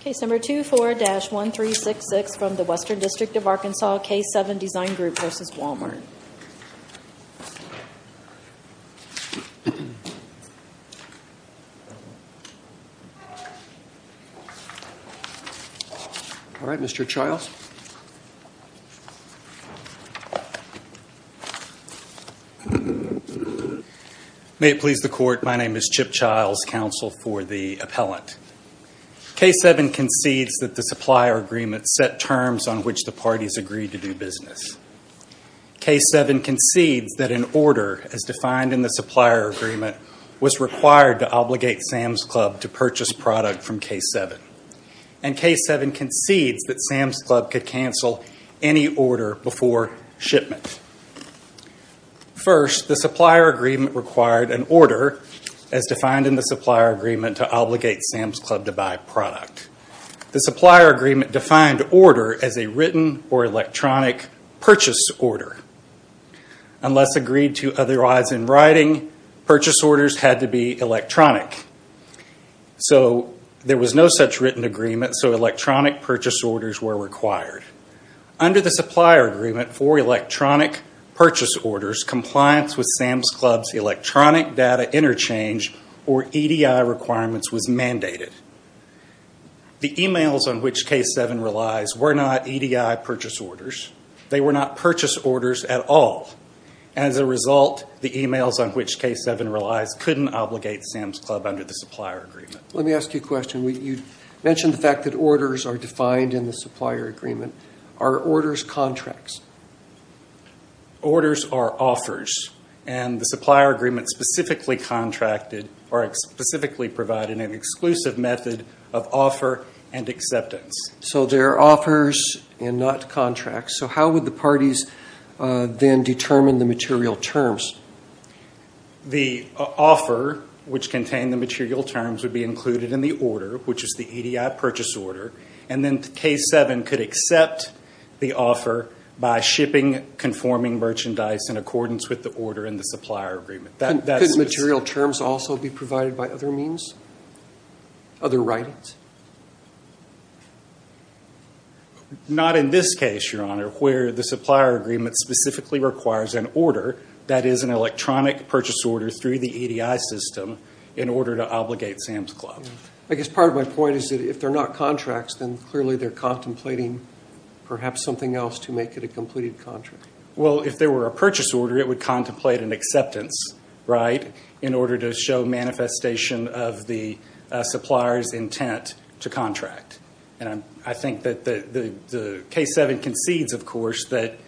Case No. 24-1366 from the Western District of Arkansas, K7 Design Group, v. Walmart. All right, Mr. Childs. May it please the Court, my name is Chip Childs, counsel for the appellant. K7 concedes that the supplier agreement set terms on which the parties agreed to do business. K7 concedes that an order, as defined in the supplier agreement, was required to obligate Sam's Club to purchase product from K7. And K7 concedes that Sam's Club could cancel any order before shipment. First, the supplier agreement required an order, as defined in the supplier agreement, to obligate Sam's Club to buy product. The supplier agreement defined order as a written or electronic purchase order. Unless agreed to otherwise in writing, purchase orders had to be electronic. So there was no such written agreement, so electronic purchase orders were required. Under the supplier agreement for electronic purchase orders, compliance with Sam's Club's electronic data interchange or EDI requirements was mandated. The emails on which K7 relies were not EDI purchase orders. They were not purchase orders at all. As a result, the emails on which K7 relies couldn't obligate Sam's Club under the supplier agreement. Let me ask you a question. You mentioned the fact that orders are defined in the supplier agreement. Are orders contracts? Orders are offers, and the supplier agreement specifically provided an exclusive method of offer and acceptance. So they're offers and not contracts. So how would the parties then determine the material terms? The offer, which contained the material terms, would be included in the order, which is the EDI purchase order, and then K7 could accept the offer by shipping conforming merchandise in accordance with the order in the supplier agreement. Couldn't material terms also be provided by other means? Other writings? Not in this case, Your Honor, where the supplier agreement specifically requires an order, that is an electronic purchase order through the EDI system, in order to obligate Sam's Club. I guess part of my point is that if they're not contracts, then clearly they're contemplating perhaps something else to make it a completed contract. Well, if there were a purchase order, it would contemplate an acceptance, right, in order to show manifestation of the supplier's intent to contract. And I think that the K7 concedes, of course, that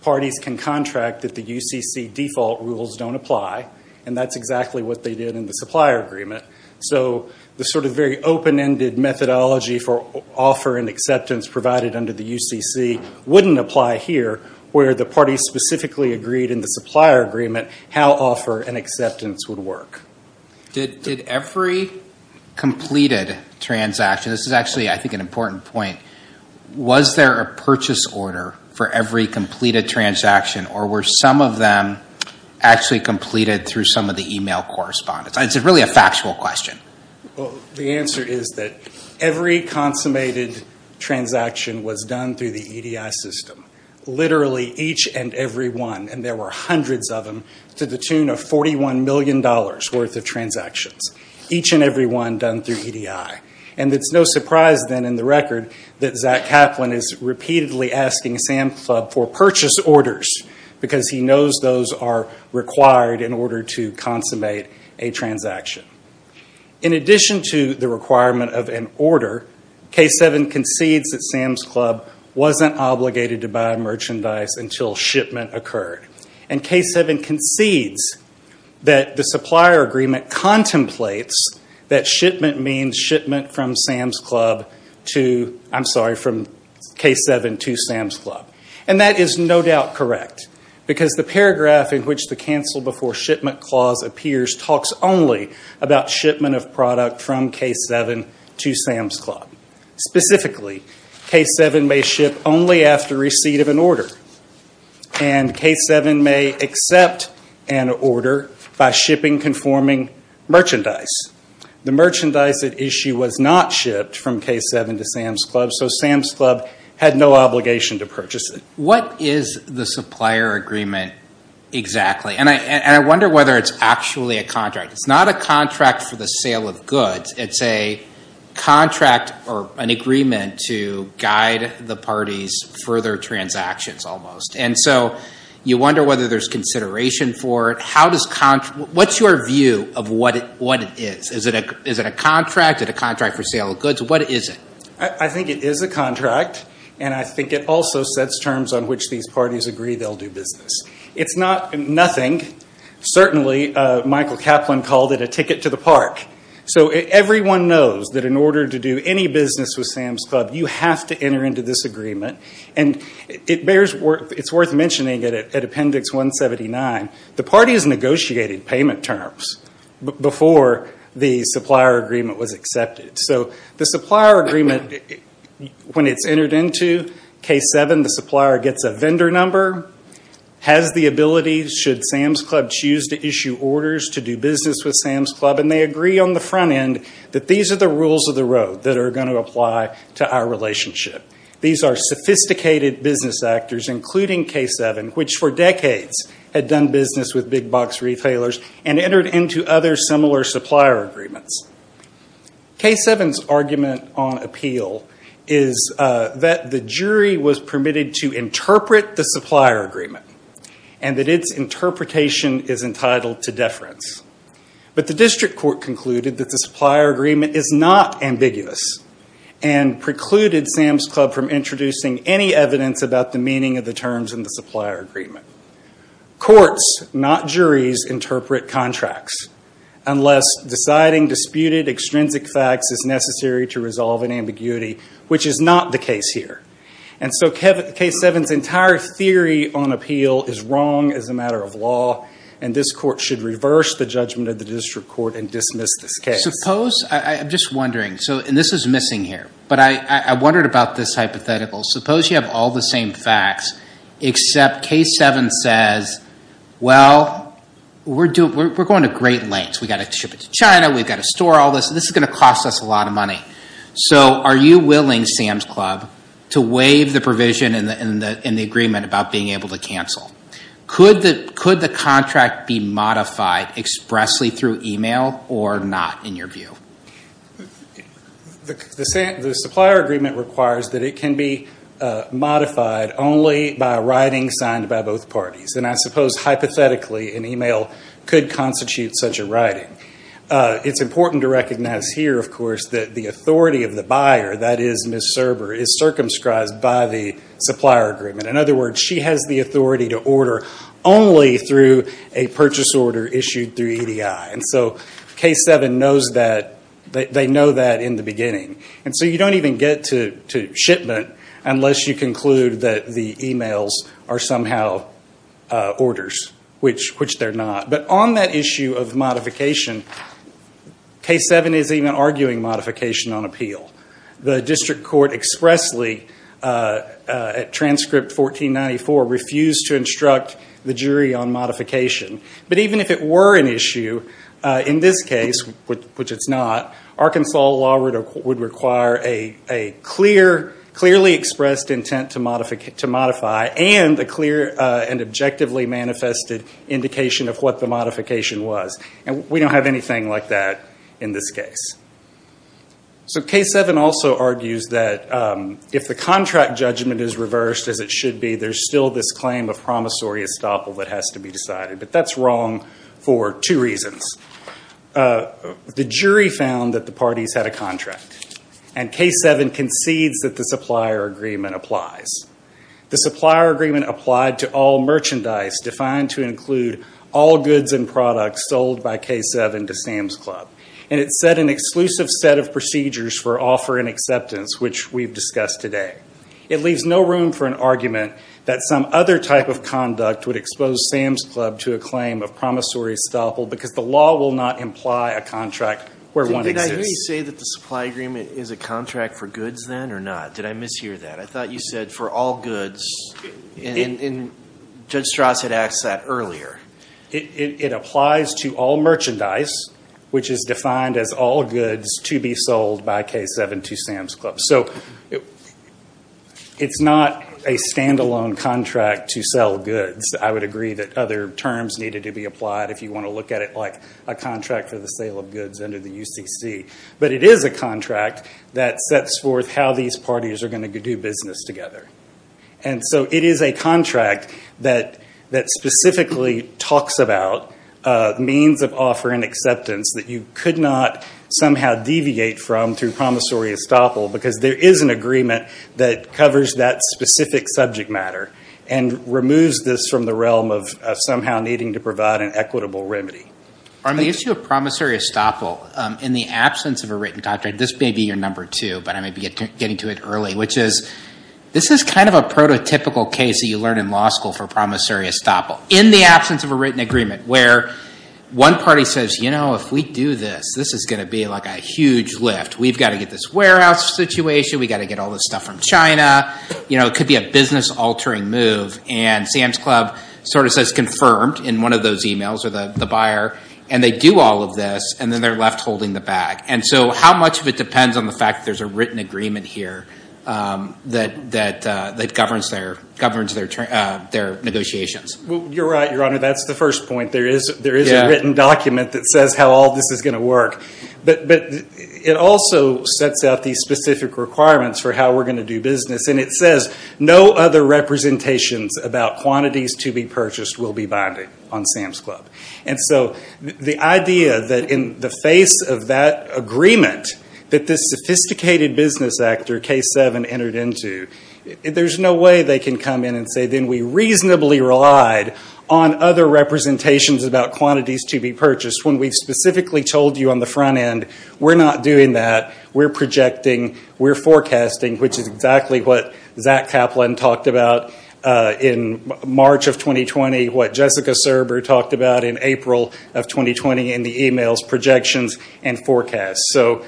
parties can contract that the UCC default rules don't apply, and that's exactly what they did in the supplier agreement. So the sort of very open-ended methodology for offer and acceptance provided under the UCC wouldn't apply here, where the parties specifically agreed in the supplier agreement how offer and acceptance would work. Did every completed transaction – this is actually, I think, an important point – was there a purchase order for every completed transaction, or were some of them actually completed through some of the email correspondence? It's really a factual question. The answer is that every consummated transaction was done through the EDI system. Literally each and every one, and there were hundreds of them, to the tune of $41 million worth of transactions. Each and every one done through EDI. And it's no surprise, then, in the record, that Zach Kaplan is repeatedly asking Sam's Club for purchase orders, because he knows those are required in order to consummate a transaction. In addition to the requirement of an order, K7 concedes that Sam's Club wasn't obligated to buy merchandise until shipment occurred. And K7 concedes that the supplier agreement contemplates that shipment means shipment from Sam's Club to – I'm sorry, from K7 to Sam's Club. And that is no doubt correct, because the paragraph in which the Cancel Before Shipment Clause appears talks only about shipment of product from K7 to Sam's Club. Specifically, K7 may ship only after receipt of an order. And K7 may accept an order by shipping conforming merchandise. The merchandise at issue was not shipped from K7 to Sam's Club, so Sam's Club had no obligation to purchase it. What is the supplier agreement exactly? And I wonder whether it's actually a contract. It's not a contract for the sale of goods. It's a contract or an agreement to guide the parties' further transactions, almost. And so you wonder whether there's consideration for it. What's your view of what it is? Is it a contract, is it a contract for sale of goods? What is it? I think it is a contract, and I think it also sets terms on which these parties agree they'll do business. It's not nothing. Certainly, Michael Kaplan called it a ticket to the park. So everyone knows that in order to do any business with Sam's Club, you have to enter into this agreement. And it's worth mentioning at Appendix 179, the parties negotiated payment terms before the supplier agreement was accepted. So the supplier agreement, when it's entered into K7, the supplier gets a vendor number, has the ability, should Sam's Club choose to issue orders to do business with Sam's Club, and they agree on the front end that these are the rules of the road that are going to apply to our relationship. These are sophisticated business actors, including K7, which for decades had done business with big box retailers and entered into other similar supplier agreements. K7's argument on appeal is that the jury was permitted to interpret the supplier agreement and that its interpretation is entitled to deference. But the district court concluded that the supplier agreement is not ambiguous and precluded Sam's Club from introducing any evidence about the meaning of the terms in the supplier agreement. Courts, not juries, interpret contracts unless deciding disputed extrinsic facts is necessary to resolve an ambiguity, which is not the case here. And so K7's entire theory on appeal is wrong as a matter of law, and this court should reverse the judgment of the district court and dismiss this case. Suppose, I'm just wondering, and this is missing here, but I wondered about this hypothetical. Suppose you have all the same facts except K7 says, well, we're going to great lengths. We've got to ship it to China. We've got to store all this. This is going to cost us a lot of money. So are you willing, Sam's Club, to waive the provision in the agreement about being able to cancel? Could the contract be modified expressly through e-mail or not, in your view? The supplier agreement requires that it can be modified only by a writing signed by both parties, and I suppose hypothetically an e-mail could constitute such a writing. It's important to recognize here, of course, that the authority of the buyer, that is Ms. Serber, is circumscribed by the supplier agreement. In other words, she has the authority to order only through a purchase order issued through EDI. And so K7 knows that. They know that in the beginning. And so you don't even get to shipment unless you conclude that the e-mails are somehow orders, which they're not. But on that issue of modification, K7 is even arguing modification on appeal. The district court expressly, at transcript 1494, refused to instruct the jury on modification. But even if it were an issue, in this case, which it's not, Arkansas law would require a clearly expressed intent to modify and a clear and objectively manifested indication of what the modification was. And we don't have anything like that in this case. So K7 also argues that if the contract judgment is reversed, as it should be, there's still this claim of promissory estoppel that has to be decided. But that's wrong for two reasons. The jury found that the parties had a contract, and K7 concedes that the supplier agreement applies. The supplier agreement applied to all merchandise defined to include all goods and products sold by K7 to Sam's Club. And it set an exclusive set of procedures for offer and acceptance, which we've discussed today. It leaves no room for an argument that some other type of conduct would expose Sam's Club to a claim of promissory estoppel because the law will not imply a contract where one exists. Did I hear you say that the supply agreement is a contract for goods then or not? Did I mishear that? I thought you said for all goods, and Judge Strauss had asked that earlier. It applies to all merchandise, which is defined as all goods to be sold by K7 to Sam's Club. So it's not a standalone contract to sell goods. I would agree that other terms needed to be applied if you want to look at it like a contract for the sale of goods under the UCC. But it is a contract that sets forth how these parties are going to do business together. And so it is a contract that specifically talks about means of offer and acceptance that you could not somehow deviate from through promissory estoppel because there is an agreement that covers that specific subject matter and removes this from the realm of somehow needing to provide an equitable remedy. On the issue of promissory estoppel, in the absence of a written contract, this may be your number two, but I may be getting to it early, which is this is kind of a prototypical case that you learn in law school for promissory estoppel. In the absence of a written agreement where one party says, you know, if we do this, this is going to be like a huge lift. We've got to get this warehouse situation. We've got to get all this stuff from China. You know, it could be a business-altering move. And Sam's Club sort of says confirmed in one of those emails or the buyer. And they do all of this, and then they're left holding the bag. And so how much of it depends on the fact that there's a written agreement here that governs their negotiations? You're right, Your Honor. That's the first point. There is a written document that says how all this is going to work. But it also sets out these specific requirements for how we're going to do business, and it says no other representations about quantities to be purchased will be binding on Sam's Club. And so the idea that in the face of that agreement that this sophisticated business actor, K7, entered into, there's no way they can come in and say then we reasonably relied on other representations about quantities to be purchased when we've specifically told you on the front end we're not doing that, we're projecting, we're forecasting, which is exactly what Zach Kaplan talked about in March of 2020, what Jessica Serber talked about in April of 2020 in the emails, projections, and forecasts. So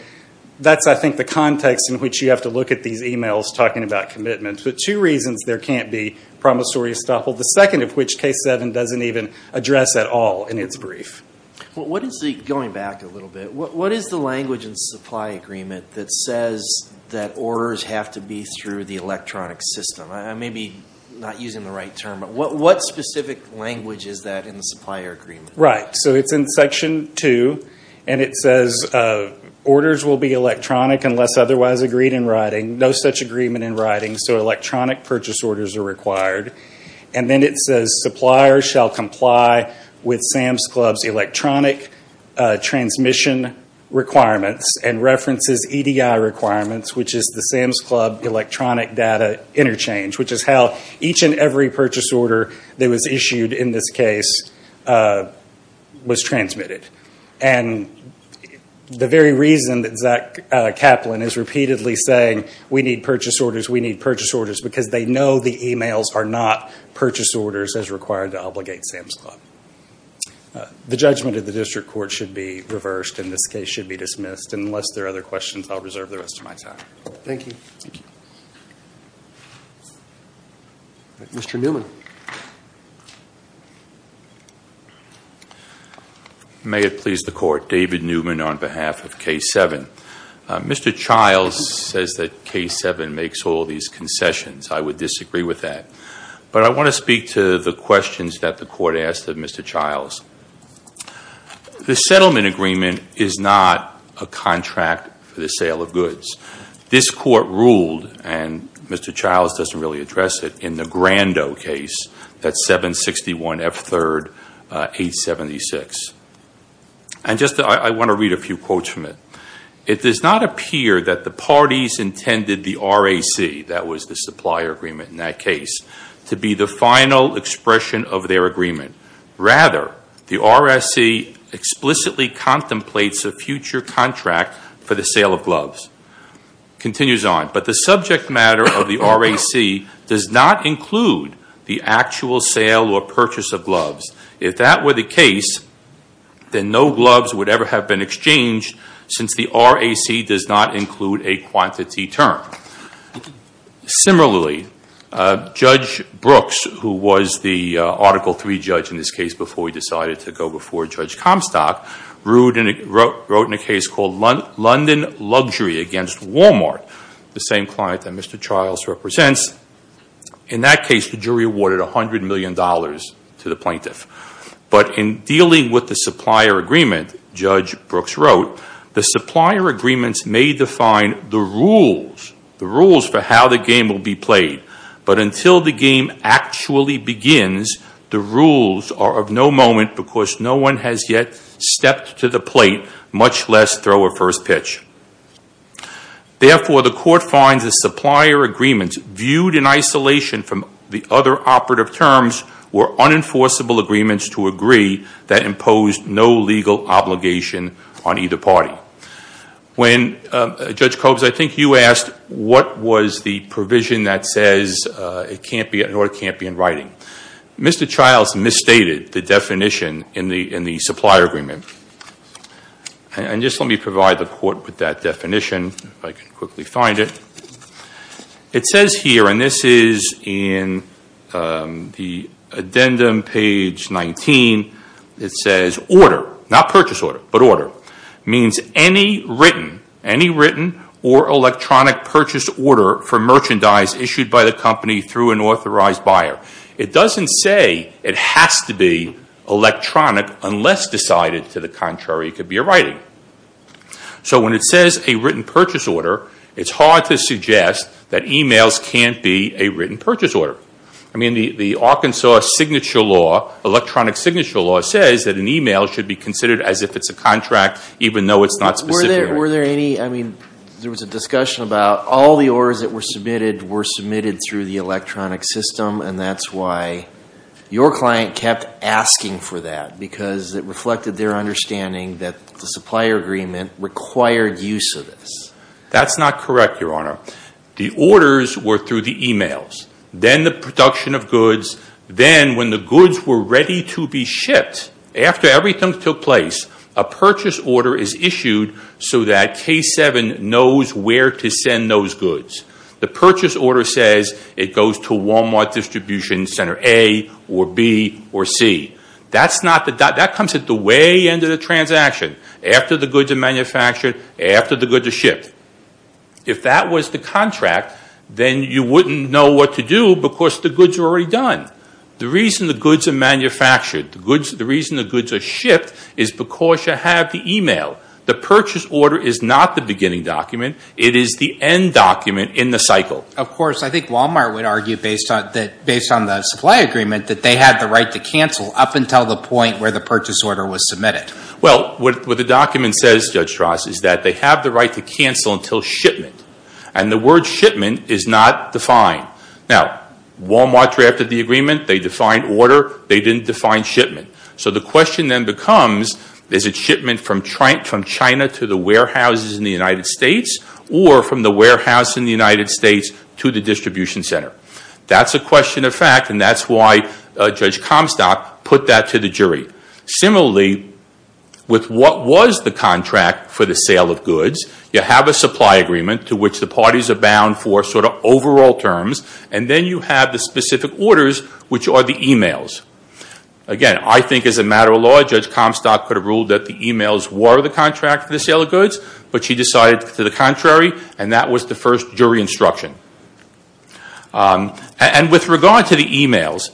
that's, I think, the context in which you have to look at these emails talking about commitments. But two reasons there can't be promissory estoppel, the second of which K7 doesn't even address at all in its brief. Going back a little bit, what is the language in the supply agreement that says that orders have to be through the electronic system? I may be not using the right term, but what specific language is that in the supplier agreement? Right, so it's in Section 2, and it says orders will be electronic unless otherwise agreed in writing, no such agreement in writing, so electronic purchase orders are required. And then it says suppliers shall comply with SAMS Club's electronic transmission requirements and references EDI requirements, which is the SAMS Club electronic data interchange, which is how each and every purchase order that was issued in this case was transmitted. And the very reason that Zach Kaplan is repeatedly saying we need purchase orders, we need purchase orders, is because they know the emails are not purchase orders as required to obligate SAMS Club. The judgment of the district court should be reversed, and this case should be dismissed. Unless there are other questions, I'll reserve the rest of my time. Thank you. Mr. Newman. May it please the Court, David Newman on behalf of K7. Mr. Childs says that K7 makes all these concessions. I would disagree with that. But I want to speak to the questions that the Court asked of Mr. Childs. The settlement agreement is not a contract for the sale of goods. This Court ruled, and Mr. Childs doesn't really address it, in the Grandot case, that 761 F3rd 876. And I want to read a few quotes from it. It does not appear that the parties intended the RAC, that was the supplier agreement in that case, to be the final expression of their agreement. Rather, the RAC explicitly contemplates a future contract for the sale of gloves. It continues on. But the subject matter of the RAC does not include the actual sale or purchase of gloves. If that were the case, then no gloves would ever have been exchanged since the RAC does not include a quantity term. Similarly, Judge Brooks, who was the Article III judge in this case before he decided to go before Judge Comstock, wrote in a case called London Luxury against Walmart, the same client that Mr. Childs represents. In that case, the jury awarded $100 million to the plaintiff. But in dealing with the supplier agreement, Judge Brooks wrote, the supplier agreements may define the rules, the rules for how the game will be played. But until the game actually begins, the rules are of no moment because no one has yet stepped to the plate, much less throw a first pitch. Therefore, the court finds the supplier agreements viewed in isolation from the other operative terms were unenforceable agreements to agree that imposed no legal obligation on either party. Judge Cobes, I think you asked what was the provision that says it can't be in writing. Mr. Childs misstated the definition in the supplier agreement. And just let me provide the court with that definition, if I can quickly find it. It says here, and this is in the addendum page 19, it says order, not purchase order, but order, means any written or electronic purchase order for merchandise issued by the company through an authorized buyer. It doesn't say it has to be electronic unless decided. To the contrary, it could be a writing. So when it says a written purchase order, it's hard to suggest that emails can't be a written purchase order. I mean, the Arkansas signature law, electronic signature law, says that an email should be considered as if it's a contract even though it's not specific. Were there any, I mean, there was a discussion about all the orders that were submitted were submitted through the electronic system, and that's why your client kept asking for that, because it reflected their understanding that the supplier agreement required use of this. That's not correct, Your Honor. The orders were through the emails. Then the production of goods. Then when the goods were ready to be shipped, after everything took place, a purchase order is issued so that K7 knows where to send those goods. The purchase order says it goes to Walmart Distribution Center A or B or C. That comes at the way end of the transaction, after the goods are manufactured, after the goods are shipped. If that was the contract, then you wouldn't know what to do because the goods are already done. The reason the goods are manufactured, the reason the goods are shipped, is because you have the email. The purchase order is not the beginning document. It is the end document in the cycle. Of course. I think Walmart would argue, based on the supply agreement, that they had the right to cancel up until the point where the purchase order was submitted. Well, what the document says, Judge Strauss, is that they have the right to cancel until shipment. And the word shipment is not defined. Now, Walmart drafted the agreement. They defined order. They didn't define shipment. So the question then becomes, is it shipment from China to the warehouses in the United States, or from the warehouse in the United States to the distribution center? That's a question of fact, and that's why Judge Comstock put that to the jury. Similarly, with what was the contract for the sale of goods, you have a supply agreement to which the parties are bound for sort of overall terms, and then you have the specific orders, which are the emails. Again, I think as a matter of law, Judge Comstock could have ruled that the emails were the contract for the sale of goods, but she decided to the contrary, and that was the first jury instruction. And with regard to the emails,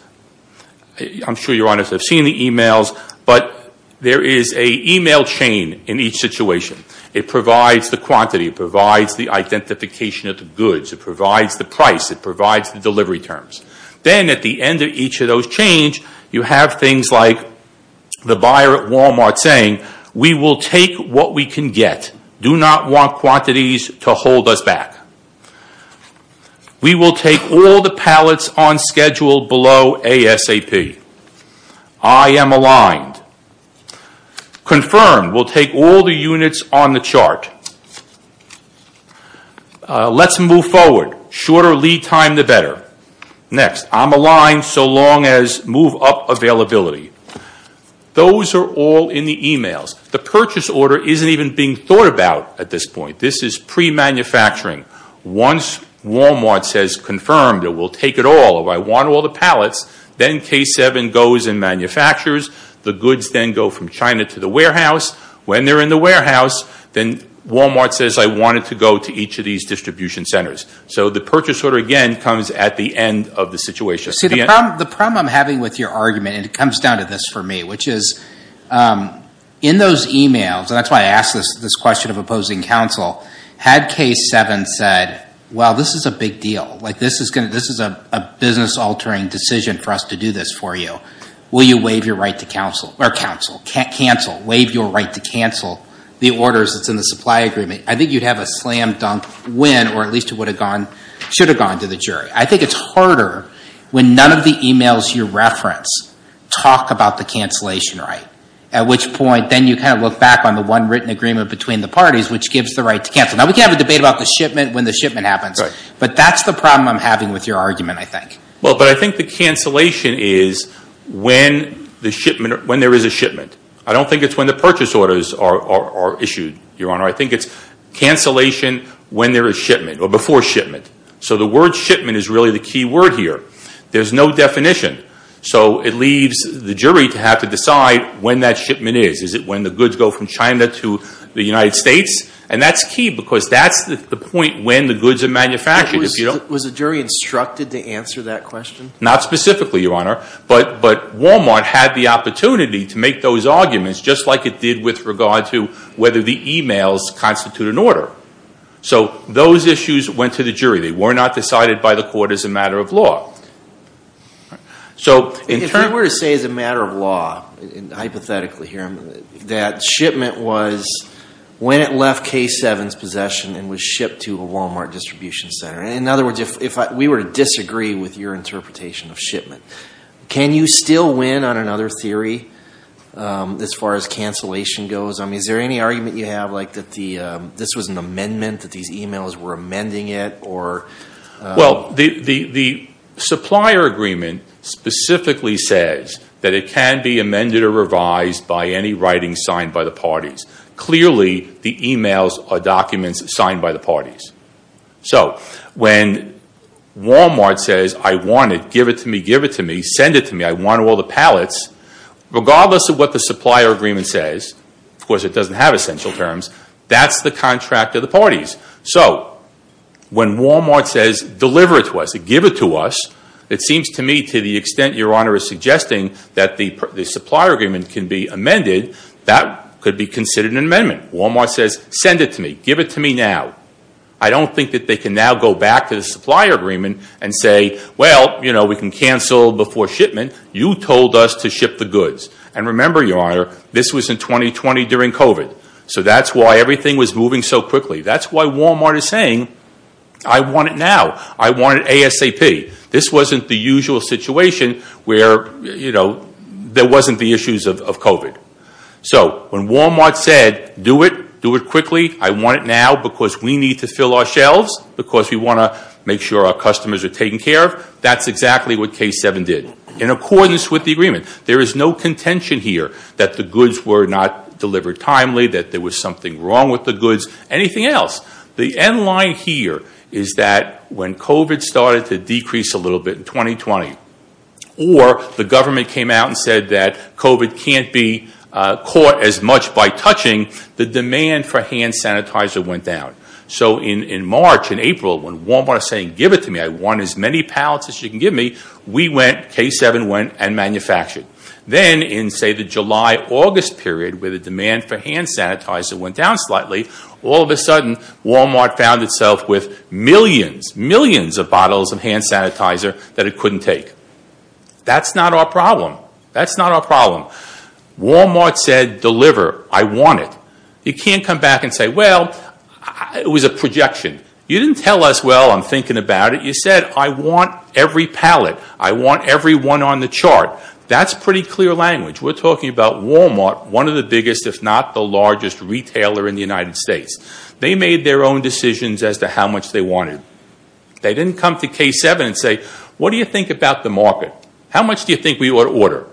I'm sure your honors have seen the emails, but there is a email chain in each situation. It provides the quantity. It provides the identification of the goods. It provides the price. It provides the delivery terms. Then at the end of each of those change, you have things like the buyer at Walmart saying, we will take what we can get. Do not want quantities to hold us back. We will take all the pallets on schedule below ASAP. I am aligned. Confirmed, we'll take all the units on the chart. Let's move forward. Shorter lead time, the better. Next, I'm aligned so long as move up availability. Those are all in the emails. The purchase order isn't even being thought about at this point. This is pre-manufacturing. Once Walmart says, confirmed, we'll take it all, I want all the pallets, then K7 goes and manufactures. The goods then go from China to the warehouse. When they're in the warehouse, then Walmart says, I want it to go to each of these distribution centers. The purchase order, again, comes at the end of the situation. The problem I'm having with your argument, and it comes down to this for me, which is in those emails, and that's why I asked this question of opposing counsel, had K7 said, well, this is a big deal. This is a business-altering decision for us to do this for you. Will you waive your right to counsel the orders that's in the supply agreement? I think you'd have a slam-dunk win, or at least it should have gone to the jury. I think it's harder when none of the emails you reference talk about the cancellation right, at which point then you kind of look back on the one written agreement between the parties, which gives the right to counsel. Now, we can have a debate about the shipment when the shipment happens, but that's the problem I'm having with your argument, I think. Well, but I think the cancellation is when there is a shipment. I don't think it's when the purchase orders are issued, Your Honor. I think it's cancellation when there is shipment or before shipment. So the word shipment is really the key word here. There's no definition, so it leaves the jury to have to decide when that shipment is. Is it when the goods go from China to the United States? And that's key because that's the point when the goods are manufactured. Was the jury instructed to answer that question? Not specifically, Your Honor, but Walmart had the opportunity to make those arguments, just like it did with regard to whether the emails constitute an order. So those issues went to the jury. They were not decided by the court as a matter of law. If I were to say as a matter of law, hypothetically here, that shipment was when it left K7's possession and was shipped to a Walmart distribution center, in other words, if we were to disagree with your interpretation of shipment, can you still win on another theory as far as cancellation goes? I mean, is there any argument you have like that this was an amendment, that these emails were amending it? Well, the supplier agreement specifically says that it can be amended or revised by any writing signed by the parties. Clearly, the emails are documents signed by the parties. So when Walmart says, I want it, give it to me, give it to me, send it to me, I want all the pallets, regardless of what the supplier agreement says, of course it doesn't have essential terms, that's the contract of the parties. So when Walmart says, deliver it to us, give it to us, it seems to me to the extent Your Honor is suggesting that the supplier agreement can be amended, that could be considered an amendment. Walmart says, send it to me, give it to me now. I don't think that they can now go back to the supplier agreement and say, well, you know, we can cancel before shipment. You told us to ship the goods. And remember, Your Honor, this was in 2020 during COVID. So that's why everything was moving so quickly. That's why Walmart is saying, I want it now. I want ASAP. This wasn't the usual situation where, you know, there wasn't the issues of COVID. So when Walmart said, do it, do it quickly, I want it now because we need to fill our shelves, because we want to make sure our customers are taken care of, that's exactly what K7 did. In accordance with the agreement, there is no contention here that the goods were not delivered timely, that there was something wrong with the goods, anything else. The end line here is that when COVID started to decrease a little bit in 2020, or the government came out and said that COVID can't be caught as much by touching, the demand for hand sanitizer went down. So in March and April, when Walmart was saying, give it to me, I want as many pallets as you can give me, we went, K7 went, and manufactured. Then in, say, the July-August period, where the demand for hand sanitizer went down slightly, all of a sudden Walmart found itself with millions, millions of bottles of hand sanitizer that it couldn't take. That's not our problem. That's not our problem. Walmart said, deliver, I want it. You can't come back and say, well, it was a projection. You didn't tell us, well, I'm thinking about it. You said, I want every pallet. I want every one on the chart. That's pretty clear language. We're talking about Walmart, one of the biggest, if not the largest, retailer in the United States. They made their own decisions as to how much they wanted. They didn't come to K7 and say, what do you think about the market? How much do you think we ought to order?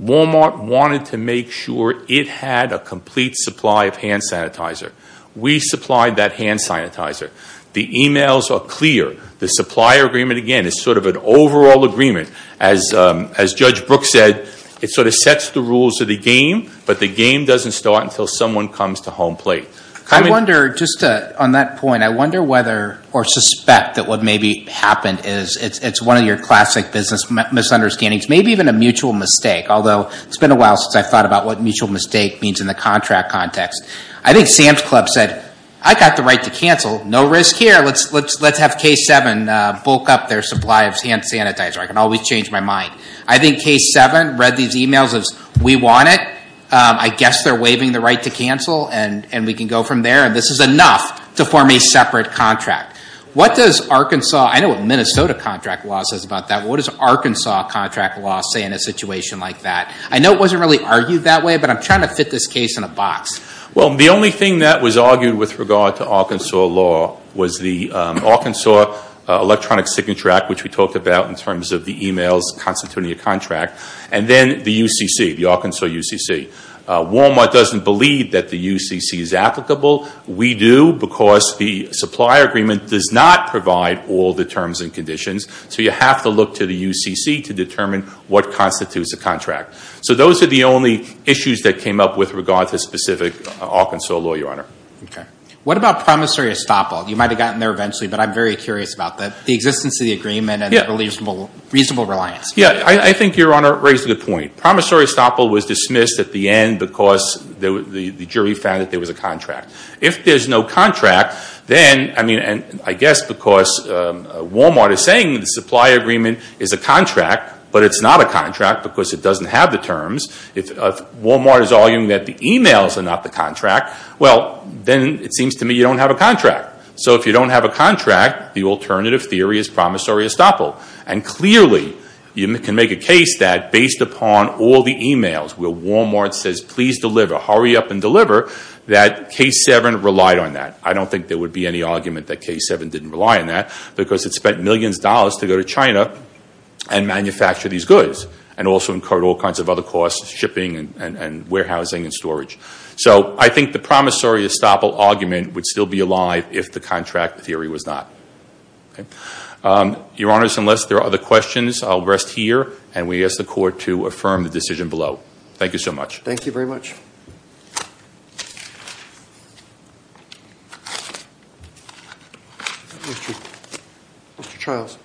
Walmart wanted to make sure it had a complete supply of hand sanitizer. We supplied that hand sanitizer. The emails are clear. The supplier agreement, again, is sort of an overall agreement. As Judge Brooks said, it sort of sets the rules of the game, but the game doesn't start until someone comes to home plate. I wonder, just on that point, I wonder whether or suspect that what maybe happened is it's one of your classic business misunderstandings, maybe even a mutual mistake, although it's been a while since I've thought about what mutual mistake means in the contract context. I think Sam's Club said, I got the right to cancel. No risk here. Let's have K7 bulk up their supply of hand sanitizer. I can always change my mind. I think K7 read these emails as, we want it. I guess they're waiving the right to cancel, and we can go from there, and this is enough to form a separate contract. What does Arkansas, I know what Minnesota contract law says about that. What does Arkansas contract law say in a situation like that? I know it wasn't really argued that way, but I'm trying to fit this case in a box. Well, the only thing that was argued with regard to Arkansas law was the Arkansas electronic signature act, which we talked about in terms of the emails constituting a contract, and then the UCC, the Arkansas UCC. Walmart doesn't believe that the UCC is applicable. We do because the supplier agreement does not provide all the terms and conditions, so you have to look to the UCC to determine what constitutes a contract. So those are the only issues that came up with regard to specific Arkansas law, Your Honor. Okay. What about promissory estoppel? You might have gotten there eventually, but I'm very curious about the existence of the agreement and reasonable reliance. Yeah, I think Your Honor raised a good point. Promissory estoppel was dismissed at the end because the jury found that there was a contract. If there's no contract, then, I mean, and I guess because Walmart is saying the supplier agreement is a contract, but it's not a contract because it doesn't have the terms. If Walmart is arguing that the emails are not the contract, well, then it seems to me you don't have a contract. So if you don't have a contract, the alternative theory is promissory estoppel, and clearly you can make a case that based upon all the emails where Walmart says, please deliver, hurry up and deliver, that K7 relied on that. I don't think there would be any argument that K7 didn't rely on that because it spent millions of dollars to go to China and manufacture these goods and also incurred all kinds of other costs, shipping and warehousing and storage. So I think the promissory estoppel argument would still be alive if the contract theory was not. Your Honors, unless there are other questions, I'll rest here, and we ask the Court to affirm the decision below. Thank you so much. Thank you very much. Mr. Charles.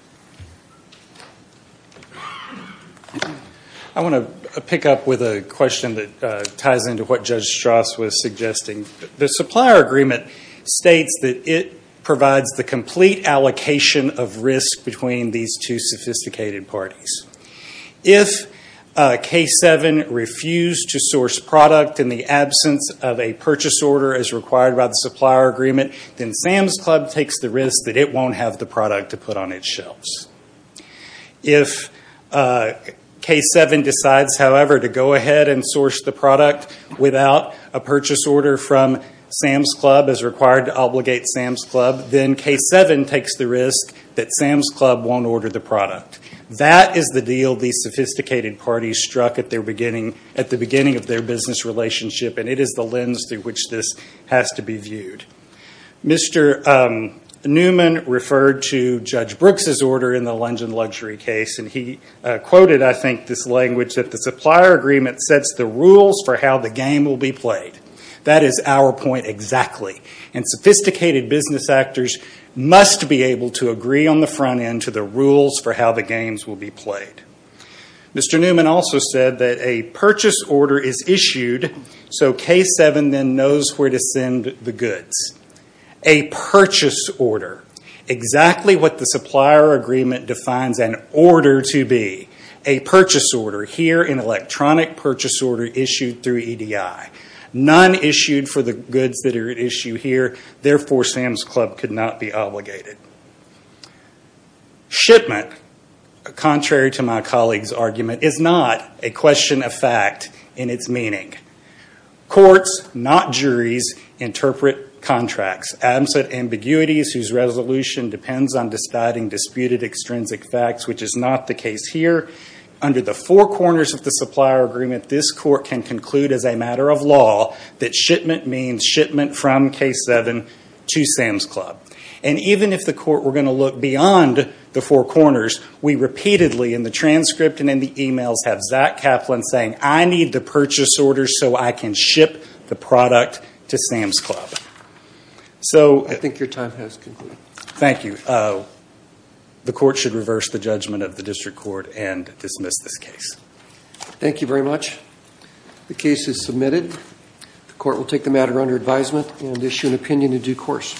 I want to pick up with a question that ties into what Judge Strauss was suggesting. The supplier agreement states that it provides the complete allocation of risk between these two sophisticated parties. If K7 refused to source product in the absence of a purchase order as required by the supplier agreement, then Sam's Club takes the risk that it won't have the product to put on its shelves. If K7 decides, however, to go ahead and source the product without a purchase order from Sam's Club as required to obligate Sam's Club, then K7 takes the risk that Sam's Club won't order the product. That is the deal these sophisticated parties struck at the beginning of their business relationship, and it is the lens through which this has to be viewed. Mr. Newman referred to Judge Brooks' order in the Lunge and Luxury case, and he quoted, I think, this language that the supplier agreement sets the rules for how the game will be played. That is our point exactly, and sophisticated business actors must be able to agree on the front end to the rules for how the games will be played. Mr. Newman also said that a purchase order is issued so K7 then knows where to send the goods. A purchase order, exactly what the supplier agreement defines an order to be. A purchase order, here an electronic purchase order issued through EDI. None issued for the goods that are at issue here. Therefore, Sam's Club could not be obligated. Shipment, contrary to my colleague's argument, is not a question of fact in its meaning. Courts, not juries, interpret contracts. Absent ambiguities whose resolution depends on deciding disputed extrinsic facts, which is not the case here. Under the four corners of the supplier agreement, this court can conclude as a matter of law that shipment means shipment from K7 to Sam's Club. And even if the court were going to look beyond the four corners, we repeatedly in the transcript and in the emails have Zach Kaplan saying, I need the purchase order so I can ship the product to Sam's Club. I think your time has concluded. Thank you. The court should reverse the judgment of the district court and dismiss this case. Thank you very much. The case is submitted. The court will take the matter under advisement and issue an opinion in due course.